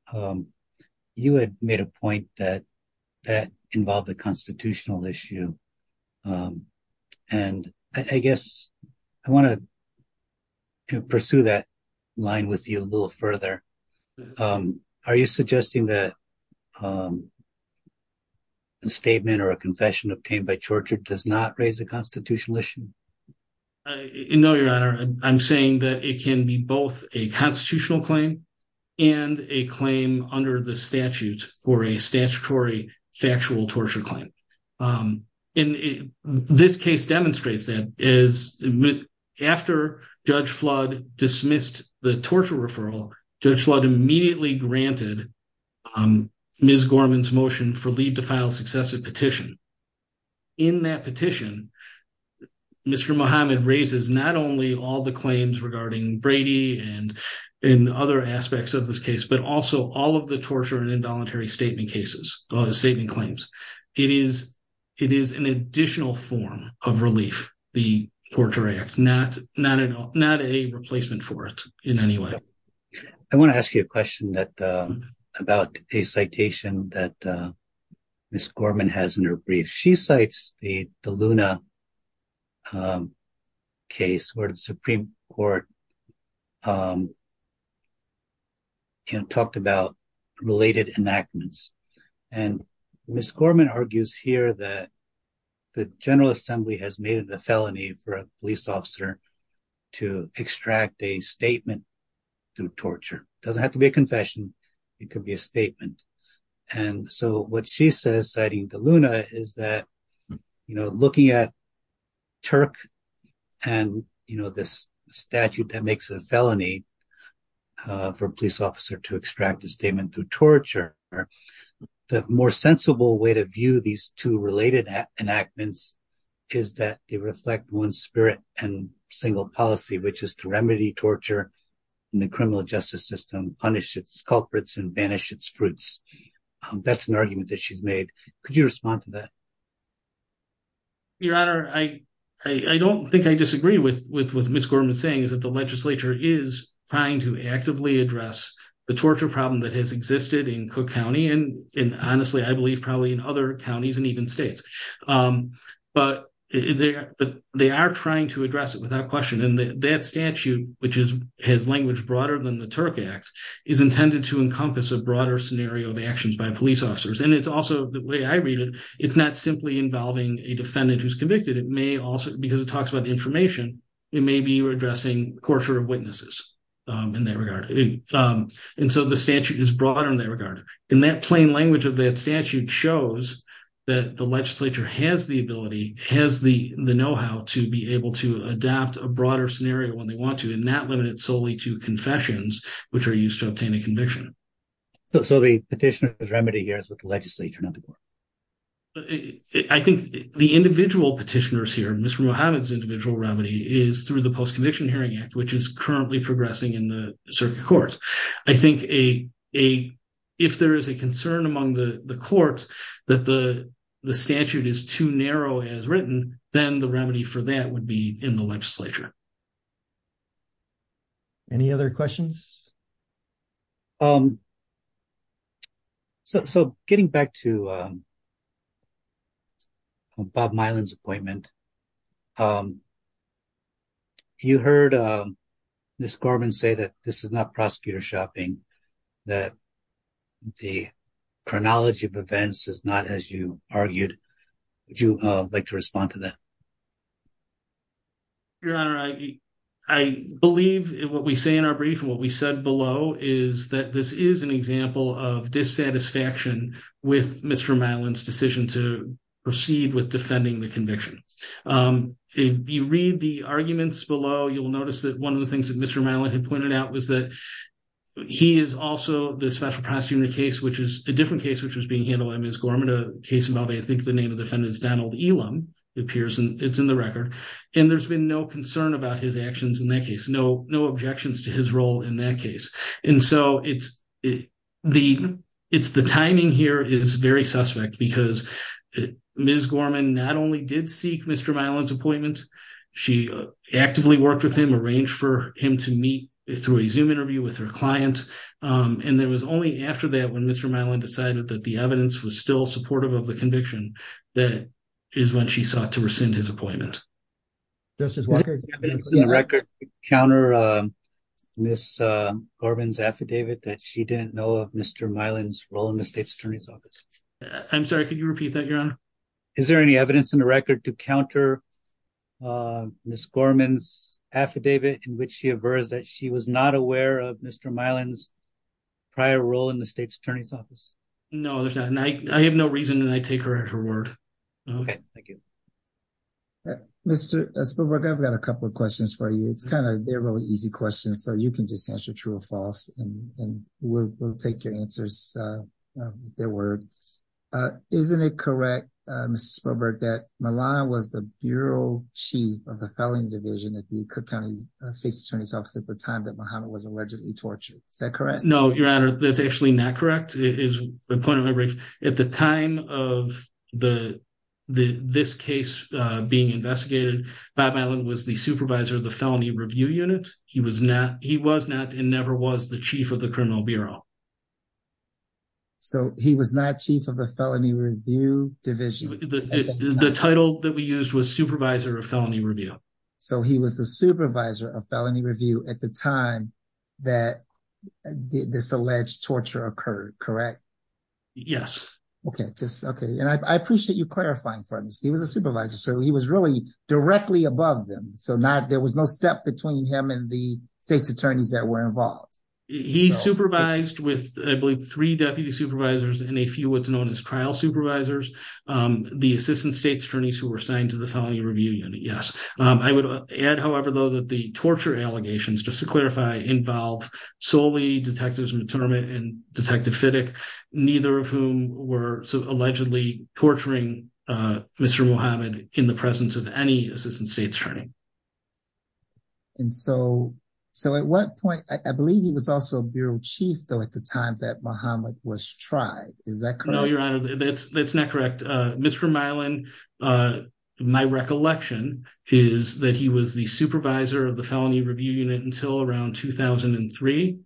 you had made a point that that involved the constitutional issue. And I guess I want to pursue that line with you a little further. Are you suggesting that a statement or a confession obtained by torture does not raise a constitutional issue? No, Your Honor. I'm saying that it can be both a constitutional claim and a claim under the statute for a statutory factual torture claim. This case demonstrates that. After Judge Flood dismissed the torture referral, Judge Flood immediately granted Ms. Gorman's motion for leave to file successive petition. In that petition, Mr. Muhammad raises not only all the claims regarding Brady and in other aspects of this case, but also all of the torture and involuntary statement claims. It is an additional form of relief, the Torture Act, not a replacement for it in any way. I want to ask you a question about a citation that Ms. Gorman has in her brief. She cites the Luna case where the Supreme Court talked about related enactments. And Ms. Gorman argues here that the General Assembly has made it a felony for a police officer to extract a statement through torture. It doesn't have to be a confession. It could be a statement. And so what she says, citing the Luna, is that looking at Turk and this statute that makes a felony for a police officer to extract a statement through torture, the more sensible way to view these two related enactments is that they reflect one spirit and single policy, which is to remedy torture in the criminal justice system, punish its culprits and banish its fruits. That's an argument that she's made. Could you respond to that? Your Honor, I don't think I disagree with what Ms. Gorman is saying, is that the legislature is trying to actively address the torture problem that has existed in Cook County and honestly, I believe, probably in other counties and even states. But they are trying to address it without question. And that statute, which has language broader than the Turk Act, is intended to encompass a broader scenario of actions by police officers. And it's also, the way I read it, it's not simply involving a defendant who's convicted. It may also, because it talks about information, it may be addressing torture of witnesses in that regard. And so the statute is broader in that regard. And that plain language of that statute shows that the legislature has the ability, has the know-how to be able to adapt a broader scenario when they want to and not limit it solely to confessions, which are used to obtain a conviction. So the petitioner's remedy here is with the legislature, not the court? I think the individual petitioners here, Mr. Muhammad's individual remedy is through the circuit court. I think if there is a concern among the court that the statute is too narrow as written, then the remedy for that would be in the legislature. Any other questions? So getting back to Bob Milan's appointment, you heard Ms. Gorman say that this is not prosecutor shopping, that the chronology of events is not as you argued. Would you like to respond to that? Your Honor, I believe what we say in our brief and what we said below is that this is an example of dissatisfaction with Mr. Milan's decision to proceed with defending the conviction. If you read the arguments below, you'll notice that one of the things that Mr. Milan had pointed out was that he is also the special prosecutor in the case, which is a different case, which was being handled by Ms. Gorman, a case involving, I think the name of the defendant is Donald Elam, appears, and it's in the record. And there's been no concern about his actions in that case, no objections to his role in that case. And so it's the timing here is very suspect because Ms. Gorman not only did seek Mr. Milan's appointment, she actively worked with him, arranged for him to meet through a Zoom interview with her client. And it was only after that, when Mr. Milan decided that the evidence was still supportive of the conviction, that is when she sought to rescind his appointment. Does this record counter Ms. Gorman's affidavit that she didn't know of Mr. Milan's role in the Is there any evidence in the record to counter Ms. Gorman's affidavit in which she aversed that she was not aware of Mr. Milan's prior role in the state's attorney's office? No, there's not. And I have no reason that I take her at her word. Okay, thank you. Mr. Spielberg, I've got a couple of questions for you. It's kind of, they're really easy questions, so you can just answer true or false, and we'll take your answers with their word. Isn't it correct, Mr. Spielberg, that Milan was the Bureau Chief of the Felony Division at the Cook County State's Attorney's Office at the time that Milano was allegedly tortured? Is that correct? No, Your Honor, that's actually not correct. It is a point of reference. At the time of this case being investigated, Bob Milan was the supervisor of the Felony Review Unit. He was not, he was not and never was the Chief of the Criminal Bureau. So, he was not Chief of the Felony Review Division? The title that we used was Supervisor of Felony Review. So, he was the Supervisor of Felony Review at the time that this alleged torture occurred, correct? Yes. Okay, just, okay. And I appreciate you clarifying for us. He was a supervisor, so he was really directly above them. So, not, there was no step between him and the state's attorneys that were involved. He supervised with, I believe, three deputy supervisors and a few what's known as trial supervisors. The Assistant State's Attorneys who were assigned to the Felony Review Unit, yes. I would add, however, though, that the torture allegations, just to clarify, involve solely Detectives Mitterand and Detective Fittick, neither of whom were allegedly torturing Mr. Muhammad in the presence of any Assistant State's Attorney. And so, at what point, I believe he was also a Bureau Chief, though, at the time that Muhammad was tried. Is that correct? No, Your Honor, that's not correct. Mr. Mylan, my recollection is that he was the Supervisor of the Felony Review Unit until around 2003,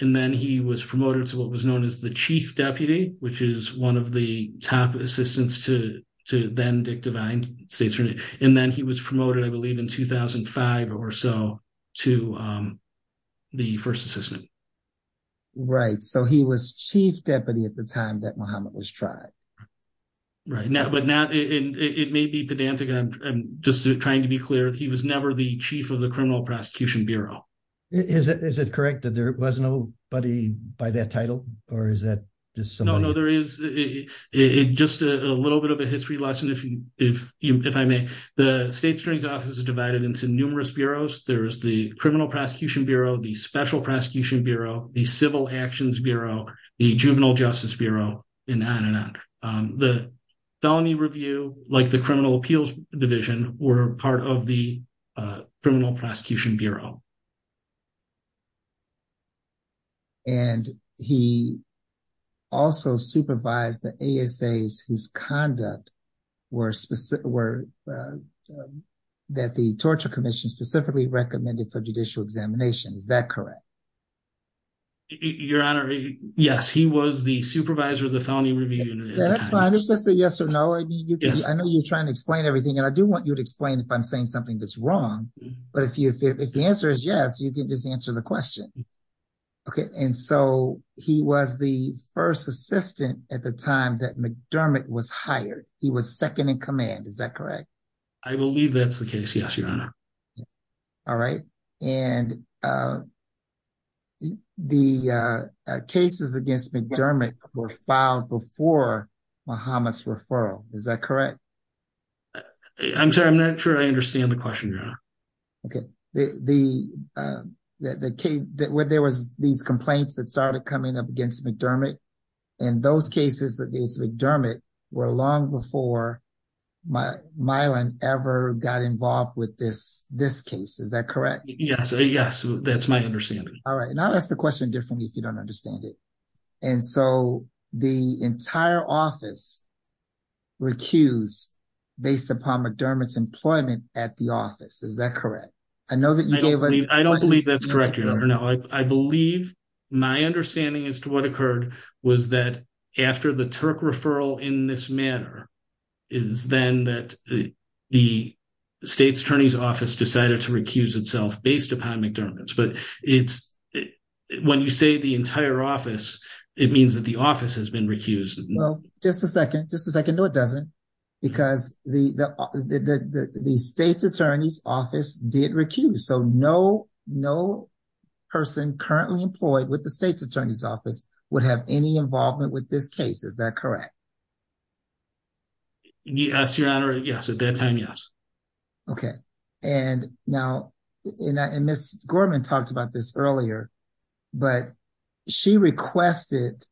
and then he was promoted to what was known as the Chief Deputy, which is one of the top assistants to then-Dick Devine, State's Attorney. And then he was promoted, I believe, in 2005 or so to the First Assistant. Right. So, he was Chief Deputy at the time that Muhammad was tried. Right. But now, it may be pedantic. I'm just trying to be clear. He was never the Chief of the Criminal Prosecution Bureau. Is it correct that there was nobody by that title, or is that just somebody? No, no, there is. Just a little bit of a the State's Attorney's Office is divided into numerous bureaus. There is the Criminal Prosecution Bureau, the Special Prosecution Bureau, the Civil Actions Bureau, the Juvenile Justice Bureau, and on and on. The Felony Review, like the Criminal Appeals Division, were part of the Criminal Prosecution Bureau. And he also supervised the ASAs whose conduct were that the Torture Commission specifically recommended for judicial examination. Is that correct? Your Honor, yes. He was the supervisor of the Felony Review. Yeah, that's fine. It's just a yes or no. I know you're trying to explain everything, and I do want you to explain if I'm saying something that's wrong, but if the answer is yes, you can just answer the question. Okay. And so, he was the first assistant at the time that McDermott was hired. He was second in command. Is that correct? I believe that's the case, yes, Your Honor. All right. And the cases against McDermott were filed before Muhammad's referral. Is that correct? I'm sorry. I'm not sure I understand the question, Your Honor. Okay. There was these complaints that started coming up against McDermott. And those cases against McDermott were long before Mylan ever got involved with this case. Is that correct? Yes. Yes. That's my understanding. All right. And I'll ask the question differently if you don't understand it. And so, the entire office recused based upon McDermott's employment at the office. Is that correct? I know that you gave a- I don't believe that's correct, Your Honor. No. I believe my understanding as to what occurred was that after the Turk referral in this manner is then that the state's attorney's office decided to recuse itself based upon McDermott's. But it's when you say the entire office, it means that the office has been recused. Well, just a second. Just a second. No, it doesn't. Because the state's attorney's office did recuse. So, no person currently employed with the state's attorney's office would have any involvement with this case. Is that correct? Yes, Your Honor. Yes. At that time, yes. Okay. And now, and Ms. Gorman talked about this earlier, but she requested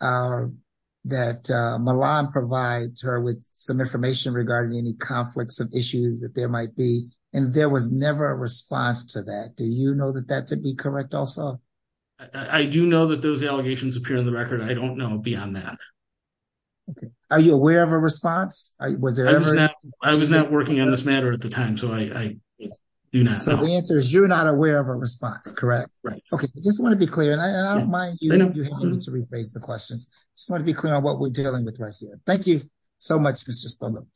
that Milan provide her with some information regarding any conflicts of issues that there might be. And there was never a response to that. Do you know that that to be correct also? I do know that those allegations appear in the record. I don't know beyond that. Okay. Are you aware of a response? Was there ever- I was not working on this matter at the time. So, I do not know. So, the answer is you're not aware of a response, correct? Right. Okay. I just want to be clear. And I don't mind you having to rephrase the questions. I just want to be clear on what we're dealing with right here. Thank you so much, Mr. Spillman.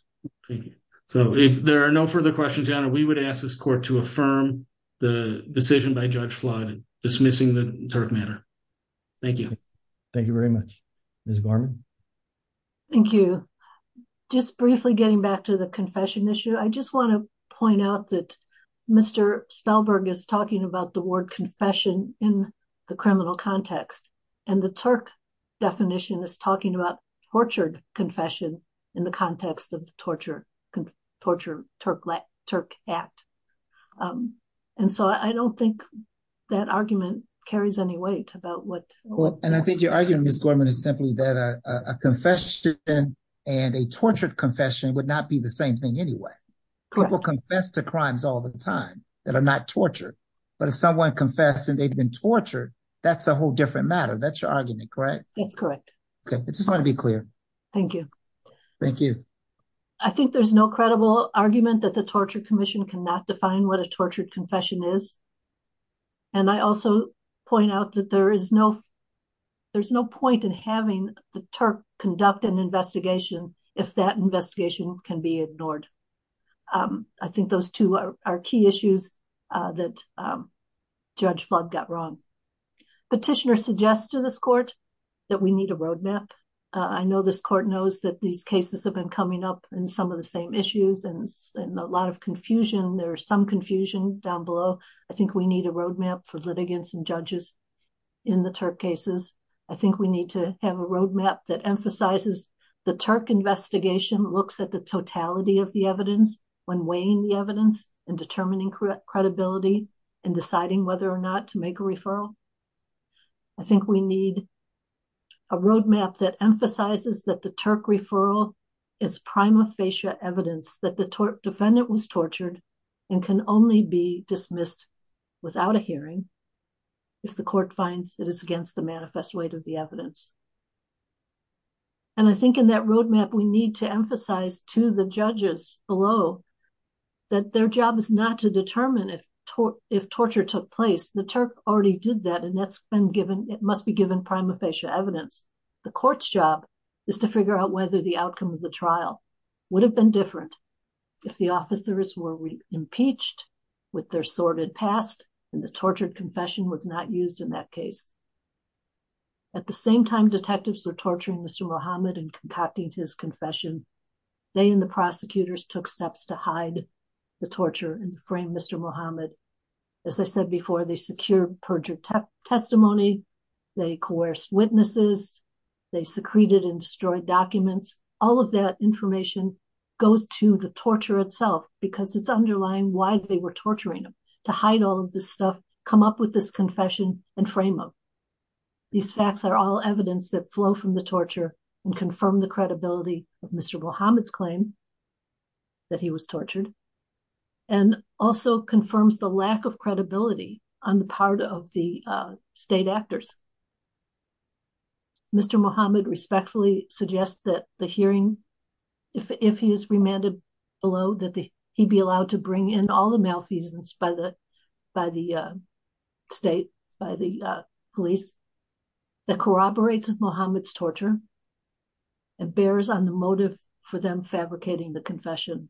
Thank you. So, if there are no further questions, Your Honor, we would ask this court to affirm the decision by Judge Flood dismissing the Turk matter. Thank you. Thank you very much. Ms. Gorman? Thank you. Just briefly getting back to the confession issue, I just want to point out that Mr. Spellberg is talking about the word confession in the criminal context. And the Turk definition is talking about tortured confession in the context of the Torture-Turk Act. And so, I don't think that argument carries any weight about what- Well, and I think your argument, Ms. Gorman, is simply that a confession and a tortured confession would not be the same thing anyway. Correct. People confess to crimes all the time that are not tortured. But if someone confesses and they've been tortured, that's a whole different matter. That's your argument, correct? That's correct. Okay. I just want to be clear. Thank you. Thank you. I think there's no credible argument that the Torture Commission cannot define what a tortured confession is. And I also point out that there's no point in having the Turk conduct an investigation if that investigation can be ignored. I think those two are key issues that Judge Flug got wrong. Petitioner suggests to this court that we need a roadmap. I know this court knows that these cases have been coming up in some of the same issues and a lot of confusion. There's some confusion down below. I think we need a roadmap for litigants and judges in the Turk cases. I think we need to have a roadmap that emphasizes the Turk investigation looks at the totality of the evidence when weighing the evidence and determining credibility and deciding whether or not to make a referral. I think we need a roadmap that emphasizes that the Turk referral is prima facie evidence that the hearing if the court finds it is against the manifest weight of the evidence. And I think in that roadmap, we need to emphasize to the judges below that their job is not to determine if torture took place. The Turk already did that and it must be given prima facie evidence. The court's job is to figure out whether the outcome of the trial would have been different if the officers were impeached with their sordid past and the tortured confession was not used in that case. At the same time detectives were torturing Mr. Muhammad and concocting his confession, they and the prosecutors took steps to hide the torture and frame Mr. Muhammad. As I said before, they secured perjured testimony, they coerced witnesses, they secreted and destroyed documents. All of that information goes to the torture itself because it's underlying why they were torturing him to hide all of this stuff, come up with this confession and frame him. These facts are all evidence that flow from the torture and confirm the credibility of Mr. Muhammad's claim that he was tortured and also confirms the lack of credibility on the part of the state actors. Mr. Muhammad respectfully suggests that the hearing, if he is remanded below, that he be allowed to bring in all the malfeasance by the state, by the police, that corroborates Muhammad's torture and bears on the motive for them fabricating the confession.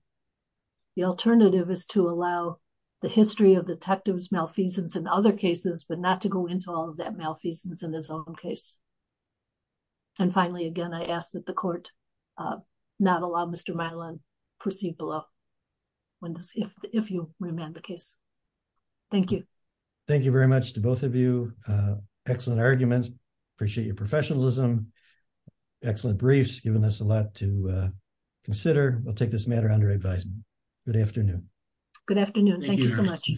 The alternative is to allow the history of detectives malfeasance in other cases but not to go into all of that malfeasance in his own case. And finally, again, I ask that the court not allow Mr. Miland perceived below if you remand the case. Thank you. Thank you very much to both of you. Excellent arguments. Appreciate your professionalism. Excellent briefs, giving us a lot to consider. We'll take this matter under advisement. Good afternoon. Good afternoon. Thank you so much.